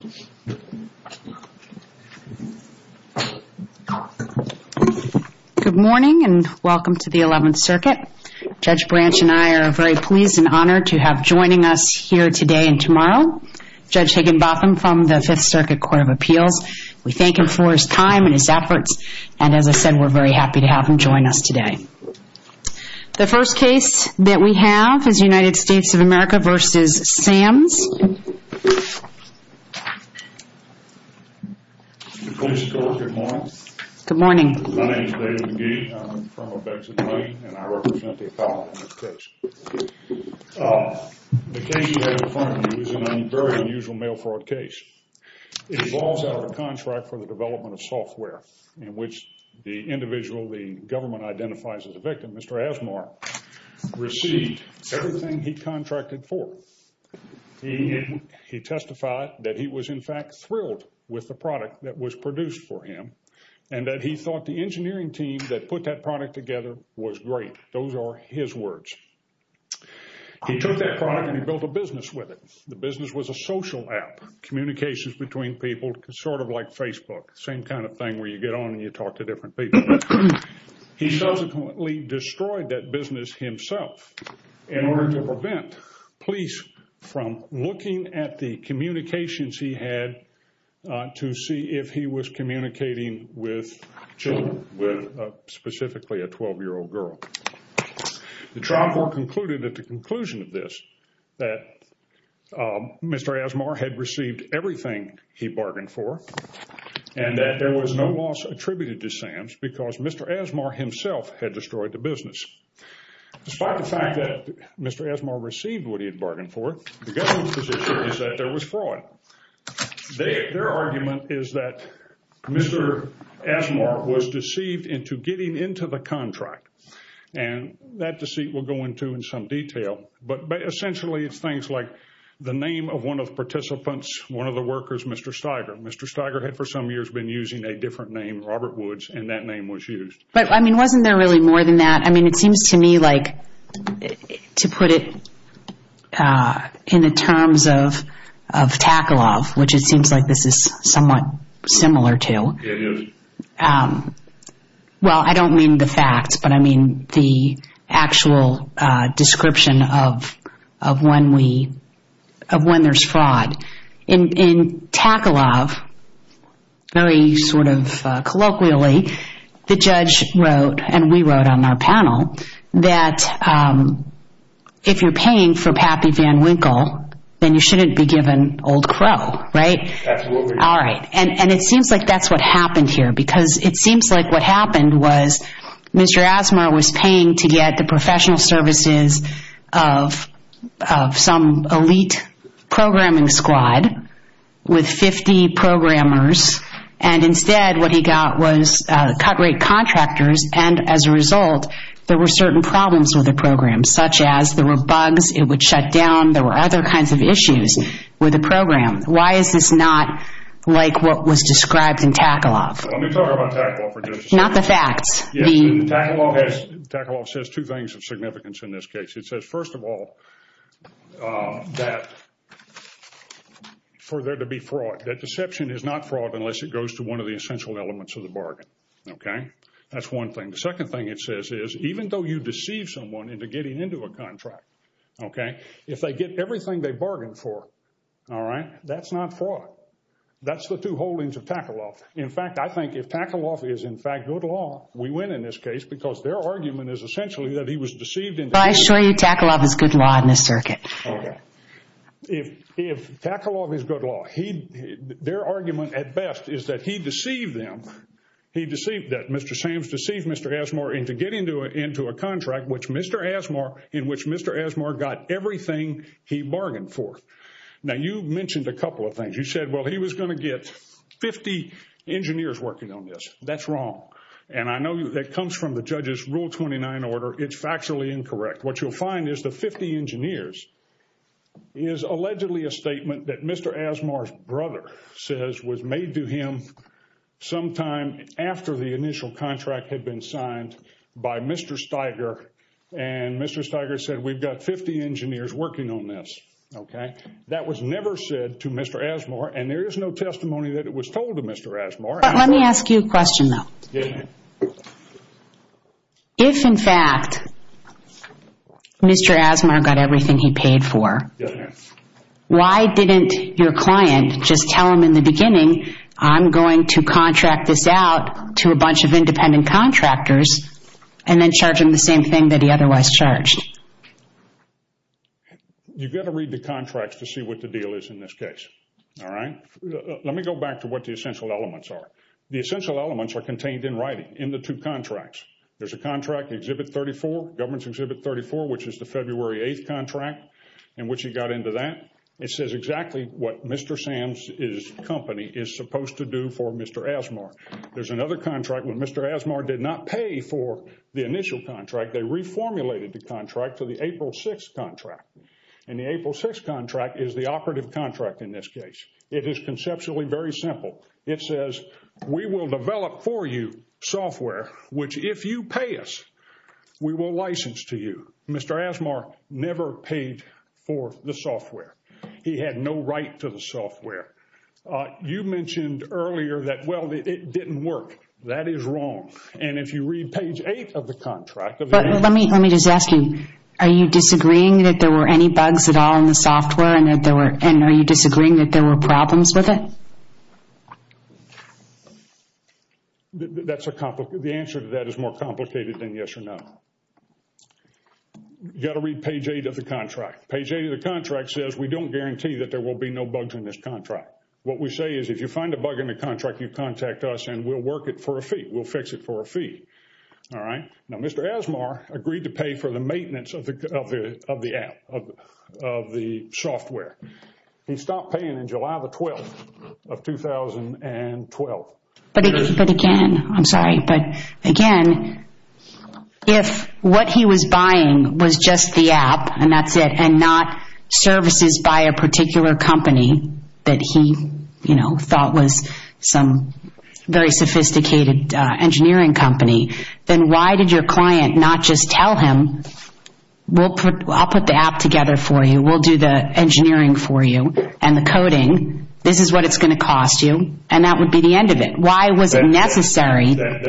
Good morning and welcome to the 11th Circuit. Judge Branch and I are very pleased and honored to have joining us here today and tomorrow, Judge Higginbotham from the Fifth Circuit Court of Appeals. We thank him for his time and his efforts, and as I said, we're very happy to have him join us today. The first case that we have is United States of America v. Sams. Good morning. My name is David McGee. I'm from New York and I represent the appellant in this case. The case you have in front of you is a very unusual mail fraud case. It evolves out of a contract for the development of software in which the individual the government identifies as a victim, Mr. Asmar, received everything he contracted for. He testified that he was in fact thrilled with the product that was produced for him and that he thought the engineering team that put that product together was great. Those are his words. He took that product and he built a business with it. The business was a social app, communications between people, sort of like Facebook, same kind of thing where you get on and you talk to different people. He subsequently destroyed that business himself in order to prevent police from looking at the communications he had to see if he was communicating with children, with specifically a 12-year-old girl. The trial court concluded at the conclusion of this that Mr. Asmar had received everything he bargained for and that there was no loss attributed to Sam's because Mr. Asmar himself had destroyed the business. Despite the fact that Mr. Asmar received what he had bargained for, the government's position is that there was fraud. Their argument is that Mr. Asmar was deceived into getting into the contract and that deceit will go into in some detail, but essentially it's things like the name of one of the participants, one of the workers, Mr. Steiger. Mr. Steiger had for some years been using a different name, Robert Woods, and that name was used. But wasn't there really more than that? It seems to me like, to put it in the terms of Takalov, which it seems like this is somewhat similar to, well I don't mean the facts, but the actual description of when there's fraud. In Takalov, very sort of colloquially, the judge wrote, and we wrote on our panel, that if you're paying for Pappy Van Winkle, then you shouldn't be given Old Crow, right? Absolutely. All right, and it seems like that's what happened here because it seems like what Asmar was paying to get the professional services of some elite programming squad with 50 programmers, and instead what he got was cut rate contractors, and as a result, there were certain problems with the program, such as there were bugs, it would shut down, there were other kinds of issues with the program. Why is this not like what was described in Takalov? Let me talk about Takalov for just a second. Yes, Takalov says two things of significance in this case. It says, first of all, that for there to be fraud, that deception is not fraud unless it goes to one of the essential elements of the bargain, okay? That's one thing. The second thing it says is, even though you deceive someone into getting into a contract, okay, if they get everything they bargained for, all right, that's not fraud. That's the two holdings of Takalov. In fact, I think if Takalov is, in fact, good law, we win in this case because their argument is essentially that he was deceived into- I assure you Takalov is good law in this circuit. Okay. If Takalov is good law, their argument at best is that he deceived them, he deceived, Mr. Sams deceived Mr. Asmar into getting into a contract in which Mr. Asmar got everything he bargained for. Now, you mentioned a couple of things. You said, well, he was going to get 50 engineers working on this. That's wrong. And I know that comes from the judge's rule 29 order. It's factually incorrect. What you'll find is the 50 engineers is allegedly a statement that Mr. Asmar's brother says was made to him sometime after the initial contract had been signed by Mr. Steiger. And Mr. Steiger said, we've got 50 engineers working on this, okay? That was never said to Mr. Asmar, and there is no testimony that it was told to Mr. Asmar. Let me ask you a question though. Yes, ma'am. If, in fact, Mr. Asmar got everything he paid for, why didn't your client just tell him in the beginning, I'm going to contract this out to a bunch of independent contractors and then charge him the same thing that he otherwise charged? You've got to read the contracts to see what the deal is in this case, all right? Let me go back to what the essential elements are. The essential elements are contained in writing in the two contracts. There's a contract, Exhibit 34, Government's Exhibit 34, which is the February 8th contract in which he got into that. It says exactly what Mr. Sam's company is supposed to do for Mr. Asmar. There's another contract where Mr. Asmar did not pay for the initial contract. They reformulated the contract to the April 6th contract, and the April 6th contract is the operative contract in this case. It is conceptually very simple. It says, we will develop for you software, which if you pay us, we will license to you. Mr. Asmar never paid for the software. He had no right to the software. You mentioned earlier that, well, it didn't work. That is wrong, and if you read page 8 of the contract... Let me just ask you, are you disagreeing that there were any bugs at all in the software, and are you disagreeing that there were problems with it? The answer to that is more complicated than yes or no. You've got to read page 8 of the contract. Page 8 of the contract says, we don't guarantee that there will be no bugs in this contract. What we say is, if you find a bug in the contract, you contact us and we'll work it for a fee. All right? Now, Mr. Asmar agreed to pay for the maintenance of the app, of the software. He stopped paying in July the 12th of 2012. But again, I'm sorry, but again, if what he was buying was just the app, and that's it, and not services by a particular company that he thought was some very sophisticated engineering company, then why did your client not just tell him, I'll put the app together for you, we'll do the engineering for you, and the coding, this is what it's going to cost you, and that would be the end of it. Why was it necessary? That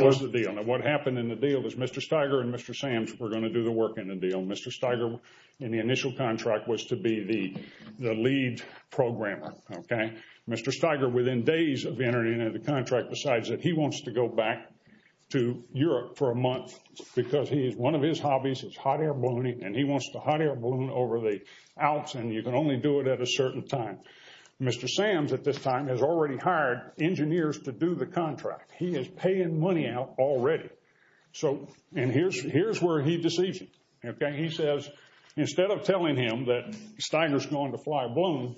was the deal. What happened in the deal was Mr. Steiger and Mr. Sams were going to do the work in the deal. Mr. Steiger, in the initial contract, was to be the lead programmer. Okay? Mr. Steiger, within days of entering into the contract decides that he wants to go back to Europe for a month because he is, one of his hobbies is hot air ballooning, and he wants to hot air balloon over the Alps, and you can only do it at a certain time. Mr. Sams, at this time, has already hired engineers to do the contract. He is paying money out already. So, and here's where he deceives you. Okay? He says, instead of telling him that Steiger's going to fly a balloon,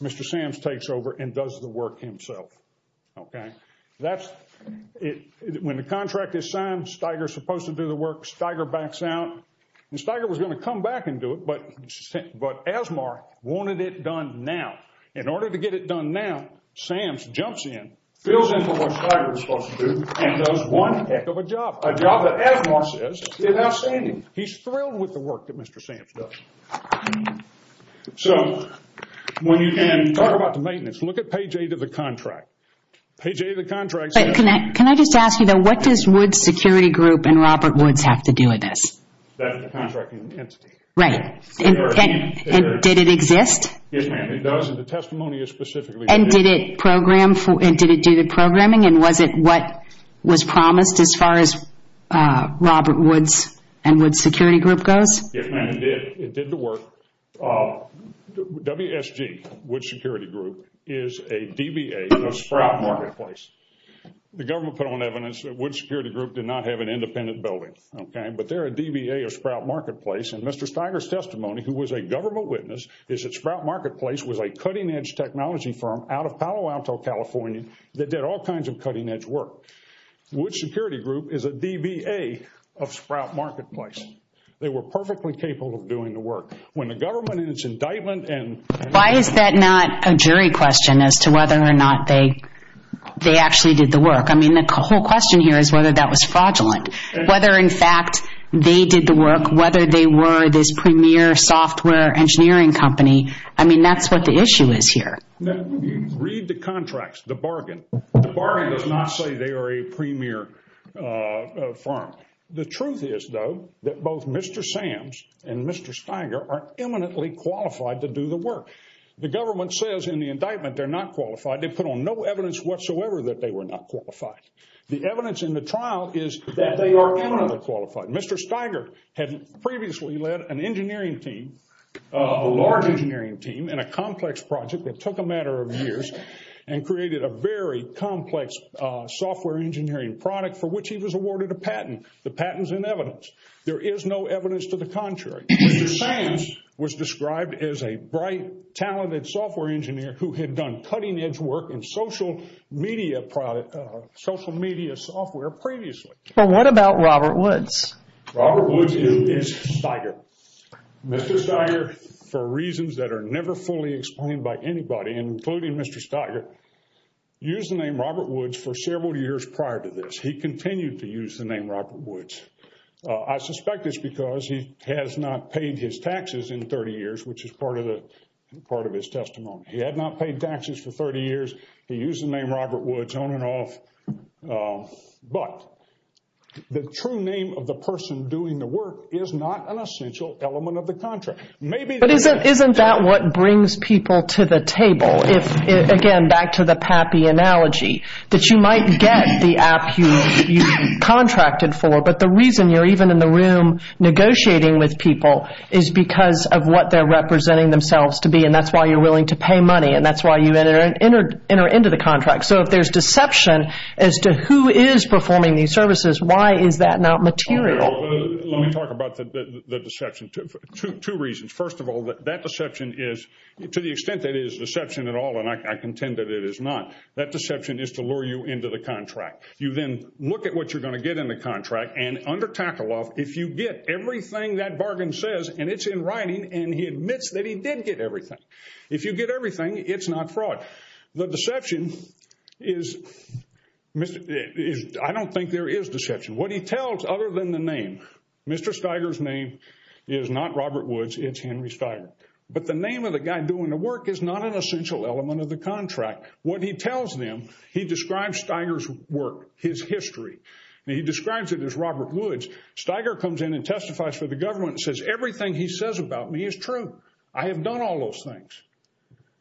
Mr. Sams takes over and does the work himself. Okay? That's, when the contract is signed, Steiger's supposed to do the work, Steiger backs out, and Steiger was going to come back and do it, but Asmar wanted it done now. In order to get it done now, Sams jumps in, fills in for what he's thrilled with the work that Mr. Sams does. So, when you can talk about the maintenance, look at page eight of the contract. Page eight of the contract says- Can I just ask you, though, what does Woods Security Group and Robert Woods have to do with this? That's the contracting entity. Right. And did it exist? Yes, ma'am, it does, and the testimony is specifically- And did it program, and did it do the programming, and was it what was promised as far as Woods Security Group goes? Yes, ma'am, it did. It did the work. WSG, Woods Security Group, is a DBA of Sprout Marketplace. The government put on evidence that Woods Security Group did not have an independent building. Okay? But they're a DBA of Sprout Marketplace, and Mr. Steiger's testimony, who was a government witness, is that Sprout Marketplace was a cutting-edge technology firm out of Palo Alto, California, that did all kinds of cutting-edge work. Woods Security Group is a DBA of Sprout Marketplace. They were perfectly capable of doing the work. When the government in its indictment and- Why is that not a jury question as to whether or not they actually did the work? I mean, the whole question here is whether that was fraudulent. Whether, in fact, they did the work, whether they were this premier software engineering company, I mean, that's what the issue is here. Read the contracts, the bargain. The bargain does not say they are a premier firm. The truth is, though, that both Mr. Sams and Mr. Steiger are eminently qualified to do the work. The government says in the indictment they're not qualified. They put on no evidence whatsoever that they were not qualified. The evidence in the trial is that they are eminently qualified. Mr. Steiger had previously led an engineering team, a large engineering team, in a complex project that took a matter of years and created a very complex software engineering product for which he was awarded a patent. The patent is in evidence. There is no evidence to the contrary. Mr. Sams was described as a bright, talented software engineer who had done cutting-edge work in social media software previously. But what about Robert Woods? Robert Woods is Steiger. Mr. Steiger, for reasons that are never fully explained by anybody, and including Mr. Steiger, used the name Robert Woods for several years prior to this. He continued to use the name Robert Woods. I suspect it's because he has not paid his taxes in 30 years, which is part of his testimony. He had not paid taxes for 30 years. He used the name Robert Woods on and off. But the true name of the person doing the work is not an essential element of the contract. Maybe the... Isn't that what brings people to the table? If, again, back to the Pappy analogy, that you might get the app you contracted for, but the reason you're even in the room negotiating with people is because of what they're representing themselves to be, and that's why you're willing to pay money, and that's why you enter into the contract. So if there's deception as to who is performing these services, why is that not material? Let me talk about the deception. Two reasons. First of all, that deception is, to the extent that it is deception at all, and I contend that it is not, that deception is to lure you into the contract. You then look at what you're going to get in the contract, and under Tackle-Off, if you get everything that bargain says, and it's in writing, and he admits that he fraud. The deception is... I don't think there is deception. What he tells, other than the name, Mr. Steiger's name is not Robert Woods, it's Henry Steiger. But the name of the guy doing the work is not an essential element of the contract. What he tells them, he describes Steiger's work, his history, and he describes it as Robert Woods. Steiger comes in and testifies for the government and says, everything he says about me is true. I have done all those things.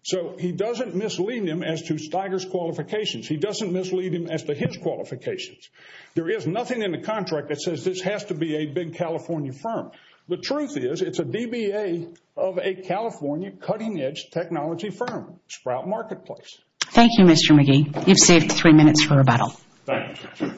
So he doesn't mislead him as to Steiger's qualifications. He doesn't mislead him as to his qualifications. There is nothing in the contract that says this has to be a big California firm. The truth is, it's a DBA of a California cutting-edge technology firm, Sprout Marketplace. Thank you, Mr. McGee. You've saved three minutes for rebuttal. Thank you.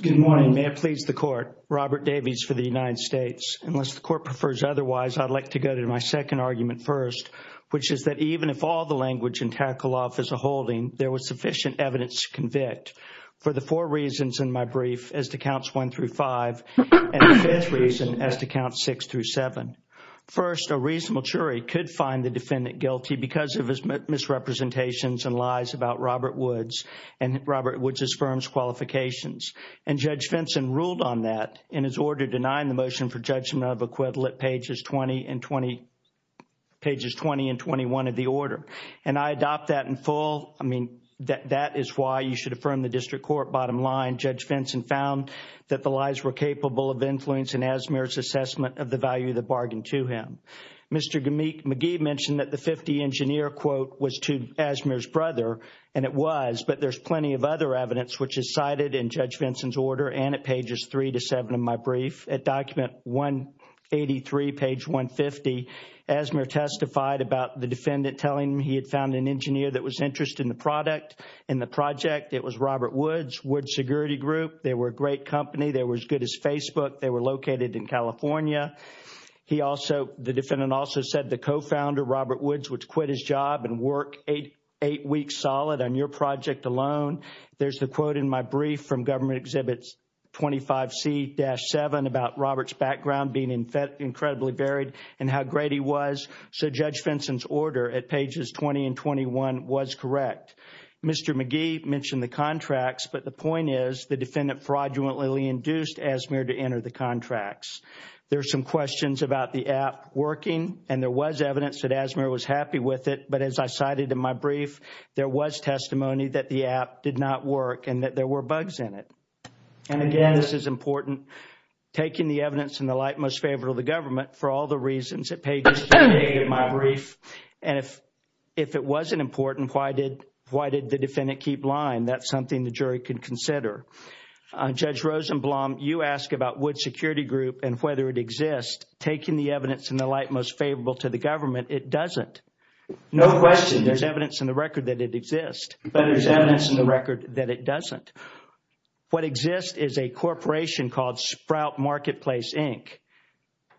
Good morning. May it please the court, Robert Davies for the United States. Unless the court prefers otherwise, I'd like to go to my second argument first, which is that even if all the language in Tackle-Off is a holding, there was sufficient evidence to convict for the four reasons in my brief as to counts one through five, and the fifth reason as to count six through seven. First, a reasonable jury could find the defendant guilty because of his misrepresentations and lies about Robert Woods and Robert Woods' firm's qualifications. And Judge Fenton ruled on that in his order denying the motion for judgment of equivalent pages 20 and 21 of the order. And I adopt that in full. I mean, that is why you should affirm the district court bottom line. Judge Fenton found that the lies were capable of influencing Asmere's assessment of the value of the bargain to him. Mr. McGee mentioned that the 50-engineer was to Asmere's brother, and it was, but there's plenty of other evidence which is cited in Judge Fenton's order and at pages three to seven of my brief. At document 183, page 150, Asmere testified about the defendant telling him he had found an engineer that was interested in the product, in the project. It was Robert Woods, Woods Security Group. They were a great company. They were as good as Facebook. They were located in California. He also, the defendant also said the co-founder, Robert Woods, would quit his job and work eight weeks solid on your project alone. There's the quote in my brief from Government Exhibit 25C-7 about Robert's background being incredibly varied and how great he was. So Judge Fenton's order at pages 20 and 21 was correct. Mr. McGee mentioned the contracts, but the point is the defendant fraudulently induced Asmere to evidence that Asmere was happy with it, but as I cited in my brief, there was testimony that the app did not work and that there were bugs in it. And again, this is important, taking the evidence in the light most favorable of the government for all the reasons at pages three and eight of my brief. And if it wasn't important, why did, why did the defendant keep lying? That's something the jury could consider. Judge Rosenblum, you ask about Woods Security Group and whether it exists, taking the evidence in the light most favorable to the government, it doesn't. No question there's evidence in the record that it exists, but there's evidence in the record that it doesn't. What exists is a corporation called Sprout Marketplace, Inc.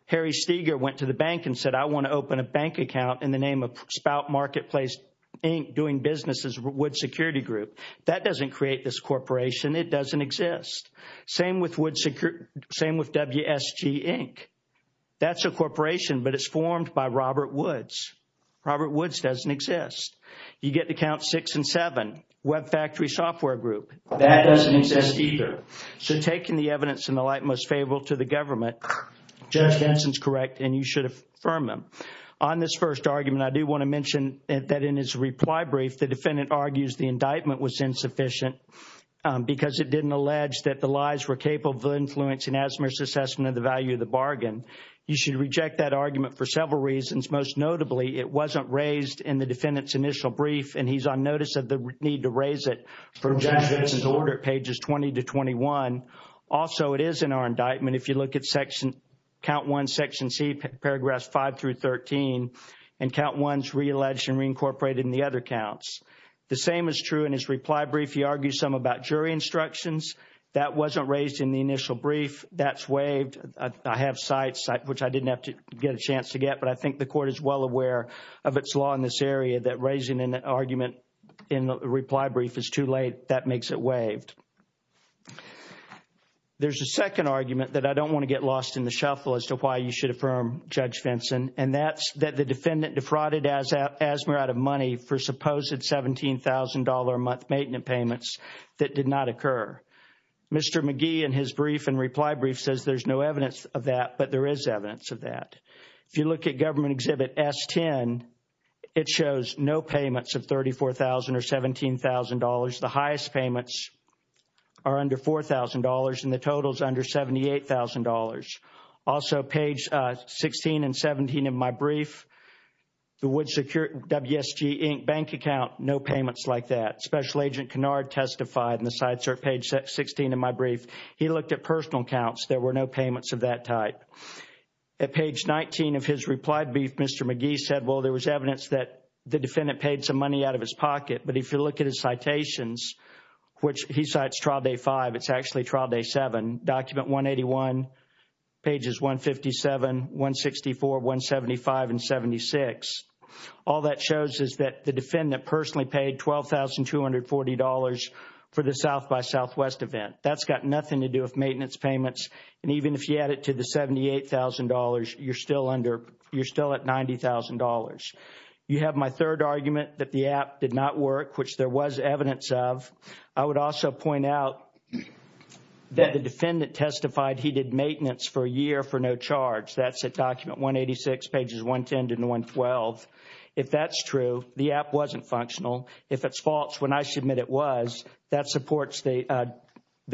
Harry Steger went to the bank and said, I want to open a bank account in the name of Sprout Marketplace, Inc., doing business as Wood Security Group. That doesn't create this corporation. It doesn't exist. Same with Wood Security, same with WSG, Inc. That's a corporation, but it's formed by Robert Woods. Robert Woods doesn't exist. You get to count six and seven, Web Factory Software Group. That doesn't exist either. So taking the evidence in the light most favorable to the government, Judge Benson's correct and you should affirm him. On this first argument, I do want to mention that in his reply brief, the defendant argues the indictment was insufficient because it didn't allege that the lies were capable of influencing Asimov's assessment of the value of the bargain. You should reject that argument for several reasons. Most notably, it wasn't raised in the defendant's initial brief and he's on notice of the need to raise it from Judge Benson's order, pages 20 to 21. Also, it is in our indictment. If you look at section, count one, section C, paragraphs five through 13, and count one's realleged and reincorporated in the other counts. The same is true in his reply brief. He argues some about jury instructions. That wasn't raised in the initial brief. That's waived. I have sites which I didn't have to get a chance to get, but I think the court is well aware of its law in this area that raising an argument in the reply brief is too late. That makes it waived. There's a second argument that I don't want to get lost in the shuffle as to why you should affirm Judge Benson, and that's that defendant defrauded Azmir out of money for supposed $17,000 a month maintenance payments that did not occur. Mr. McGee in his brief and reply brief says there's no evidence of that, but there is evidence of that. If you look at government exhibit S10, it shows no payments of $34,000 or $17,000. The highest payments are under $4,000 and the total is under $78,000. Also, page 16 and 17 of my brief, the Wood Security, WSG, Inc. bank account, no payments like that. Special Agent Kennard testified and the sites are at page 16 of my brief. He looked at personal accounts. There were no payments of that type. At page 19 of his reply brief, Mr. McGee said, well, there was evidence that the defendant paid some money out of his pocket, but if you look at his citations, which he cites trial day five, it's actually trial day seven, document 181, pages 157, 164, 175, and 76. All that shows is that the defendant personally paid $12,240 for the South by Southwest event. That's got nothing to do with maintenance payments, and even if you add it to the $78,000, you're still at $90,000. You have my third argument that the app did not work, which there was evidence of. I would also point out that the defendant testified he did maintenance for a year for no charge. That's at document 186, pages 110 to 112. If that's true, the app wasn't functional. If it's false, when I submit it was, that supports the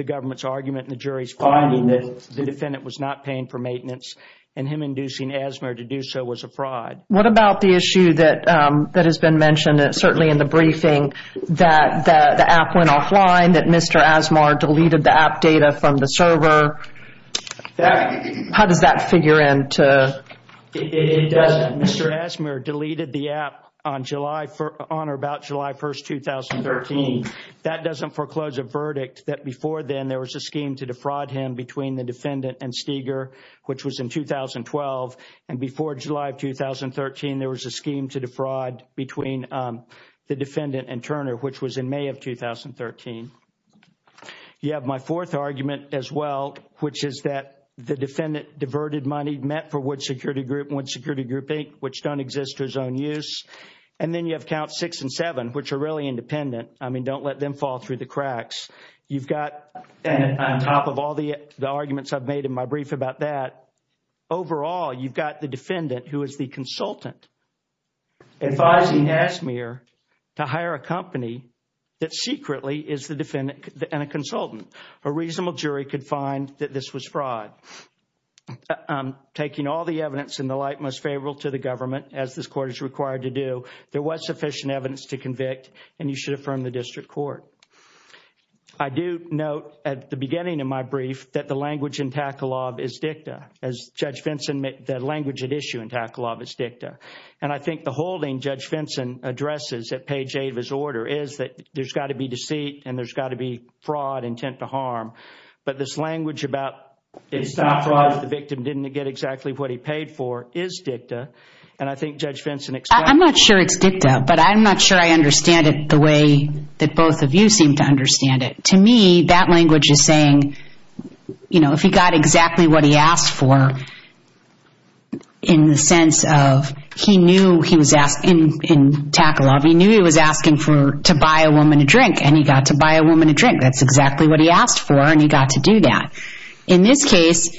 government's argument and the jury's finding that the defendant was not paying for maintenance, and him inducing asthma to do so was a fraud. What about the issue that has been mentioned, certainly in the briefing, that the app went offline, that Mr. Asmar deleted the app data from the server? How does that figure in? It doesn't. Mr. Asmar deleted the app on or about July 1st, 2013. That doesn't foreclose a verdict that before then there was a scheme to defraud him between the defendant and Steger, which was in 2012. Before July of 2013, there was a scheme to defraud between the defendant and Turner, which was in May of 2013. You have my fourth argument as well, which is that the defendant diverted money met for Wood Security Group 8, which don't exist to his own use. Then you have Counts 6 and 7, which are really independent. I mean, don't let them fall through the cracks. You've got, on top of all the arguments I've made about that, overall, you've got the defendant, who is the consultant, advising Asmar to hire a company that secretly is the defendant and a consultant. A reasonable jury could find that this was fraud. Taking all the evidence in the light most favorable to the government, as this Court is required to do, there was sufficient evidence to convict, and you should affirm the is dicta. As Judge Fenton, the language at issue in Taklov is dicta. I think the holding Judge Fenton addresses at page 8 of his order is that there's got to be deceit and there's got to be fraud, intent to harm. But this language about the victim didn't get exactly what he paid for is dicta. I think Judge Fenton expects- I'm not sure it's dicta, but I'm not sure I understand it the way that both of you seem to understand it. To me, that language is saying, if he got exactly what he asked for, in the sense of he knew he was asking, in Taklov, he knew he was asking to buy a woman a drink, and he got to buy a woman a drink. That's exactly what he asked for, and he got to do that. In this case,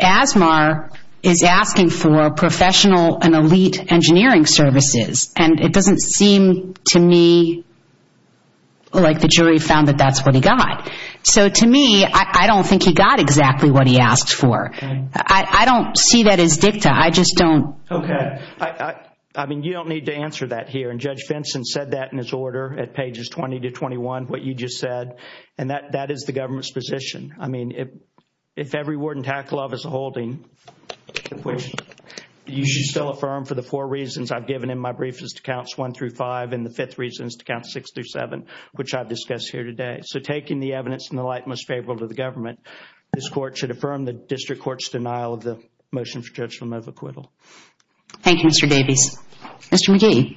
Asmar is asking for professional and elite engineering services, and it doesn't seem to me like the jury found that that's what he got. So to me, I don't think he got exactly what he asked for. I don't see that as dicta. I just don't- Okay. I mean, you don't need to answer that here, and Judge Fenton said that in his order at pages 20 to 21, what you just said, and that is the government's position. I mean, if every ward in Taklov is a holding, which you should still affirm for the four reasons I've given in my brief is to counts 1 through 5, and the fifth reason is to count 6 through 7, which I've discussed here today. So taking the evidence in the light most favorable to the government, this court should affirm the district court's denial of the motion for judgment of acquittal. Thank you, Mr. Davies. Mr. McGee.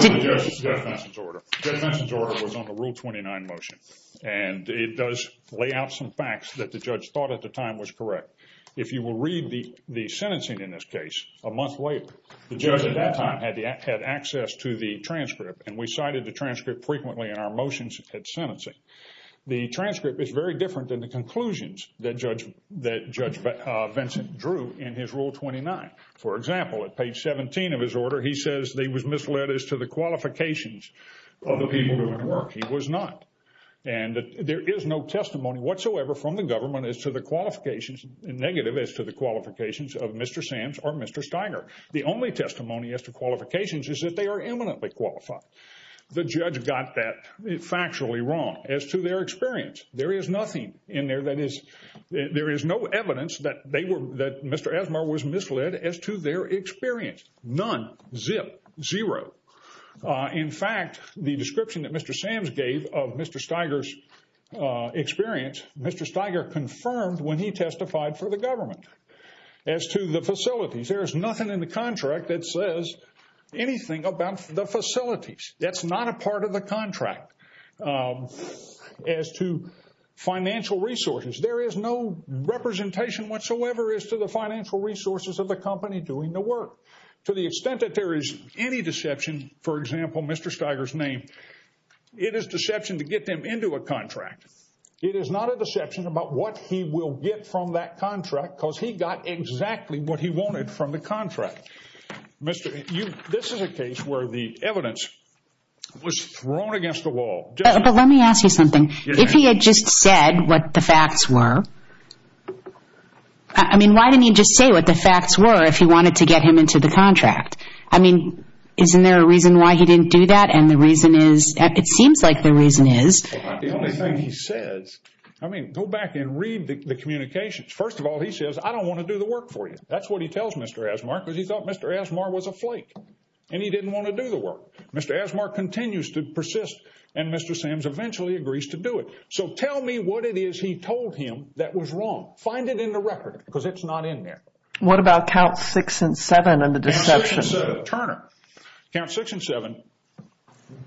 Judge Fenton's order was on the Rule 29 motion, and it does lay out some facts that the judge thought at the time was correct. If you will read the sentencing in this case, a month later, the judge at that time had access to the transcript, and we cited the transcript frequently in our motions at sentencing. The transcript is very different than the conclusions that Judge Fenton drew in his Rule 29. For example, at page 17 of his order, he says that he was misled as to the qualifications of the people doing the work. He was not. And there is no testimony whatsoever from the government as to the qualifications, negative as to the qualifications of Mr. Sams or Mr. Steiger. The only testimony as to qualifications is that they are eminently qualified. The judge got that factually wrong as to their experience. There is nothing in there that is, there is no evidence that they were, that Mr. Asmar was misled as to their experience. None. Zip. Zero. In fact, the description that Mr. Sams gave of Mr. Steiger's experience, Mr. Steiger confirmed when he testified for the government. As to the facilities, there is nothing in the contract that says anything about the facilities. That's not a part of the contract. As to financial resources, there is no representation whatsoever as to the financial resources of the company doing the work. To the extent that there is any deception, for example, Mr. Steiger's name, it is deception to get them into a contract. It is not a deception about what he will get from that contract because he got exactly what he wanted from the contract. Mr., you, this is a case where the evidence was thrown against the wall. But let me ask you something. If he had just said what the facts were, I mean, why didn't he just say what the facts were if he wanted to get him into the contract? I mean, isn't there a reason why he didn't do that? And the reason is, it seems like the reason is. The only thing he says, I mean, go back and read the communications. First of all, he says, I don't want to do the work for you. That's what he tells Mr. Asmar because he thought Mr. Asmar was a flake and he didn't want to do the work. Mr. Asmar continues to persist and Mr. Sams eventually agrees to do it. So tell me what it is he told him that was wrong. Find it in the record because it's not in there. What about count six and seven and the deception? Turner, count six and seven.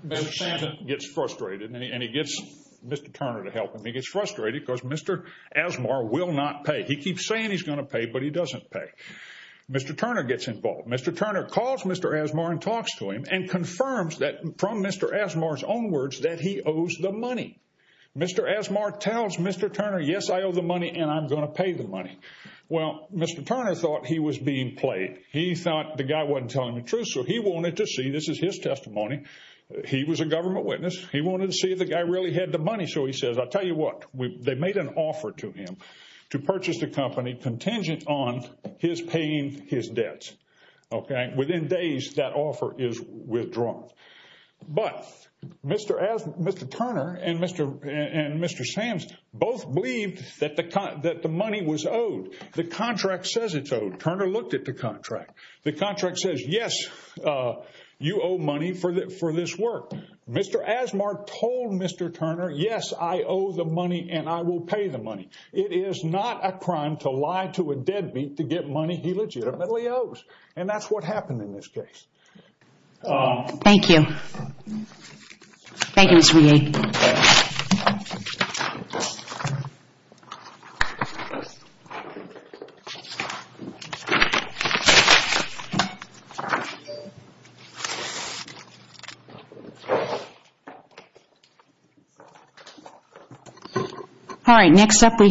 Gets frustrated and he gets Mr. Turner to help him. He gets frustrated because Mr. Asmar will not pay. He keeps saying he's going to pay, but he doesn't pay. Mr. Turner gets involved. Mr. Turner calls Mr. Asmar and talks to him and confirms that from Mr. Asmar's own words that he owes the money. Mr. Asmar tells Mr. Turner, yes, I owe the money and I'm going to pay the money. Well, Mr. Turner thought he was being played. He thought the guy wasn't telling the truth. So he wanted to see, this is his testimony, he was a government witness. He wanted to see if the guy really had the money. So he says, I'll tell you what, they made an offer to him to purchase the company contingent on his paying his debts. Okay. Within days, that offer is withdrawn. But Mr. Turner and Mr. Sams both believed that the money was owed. The contract says it's owed. Turner looked at the contract. The contract says, yes, you owe money for this work. Mr. Asmar told Mr. Turner, yes, I owe the money and I will pay the money. It is not a crime to lie to a deadbeat to get money he legitimately owes. And that's what happened in this case. Thank you. Thank you, Mr. Yate. Thank you. All right, next up we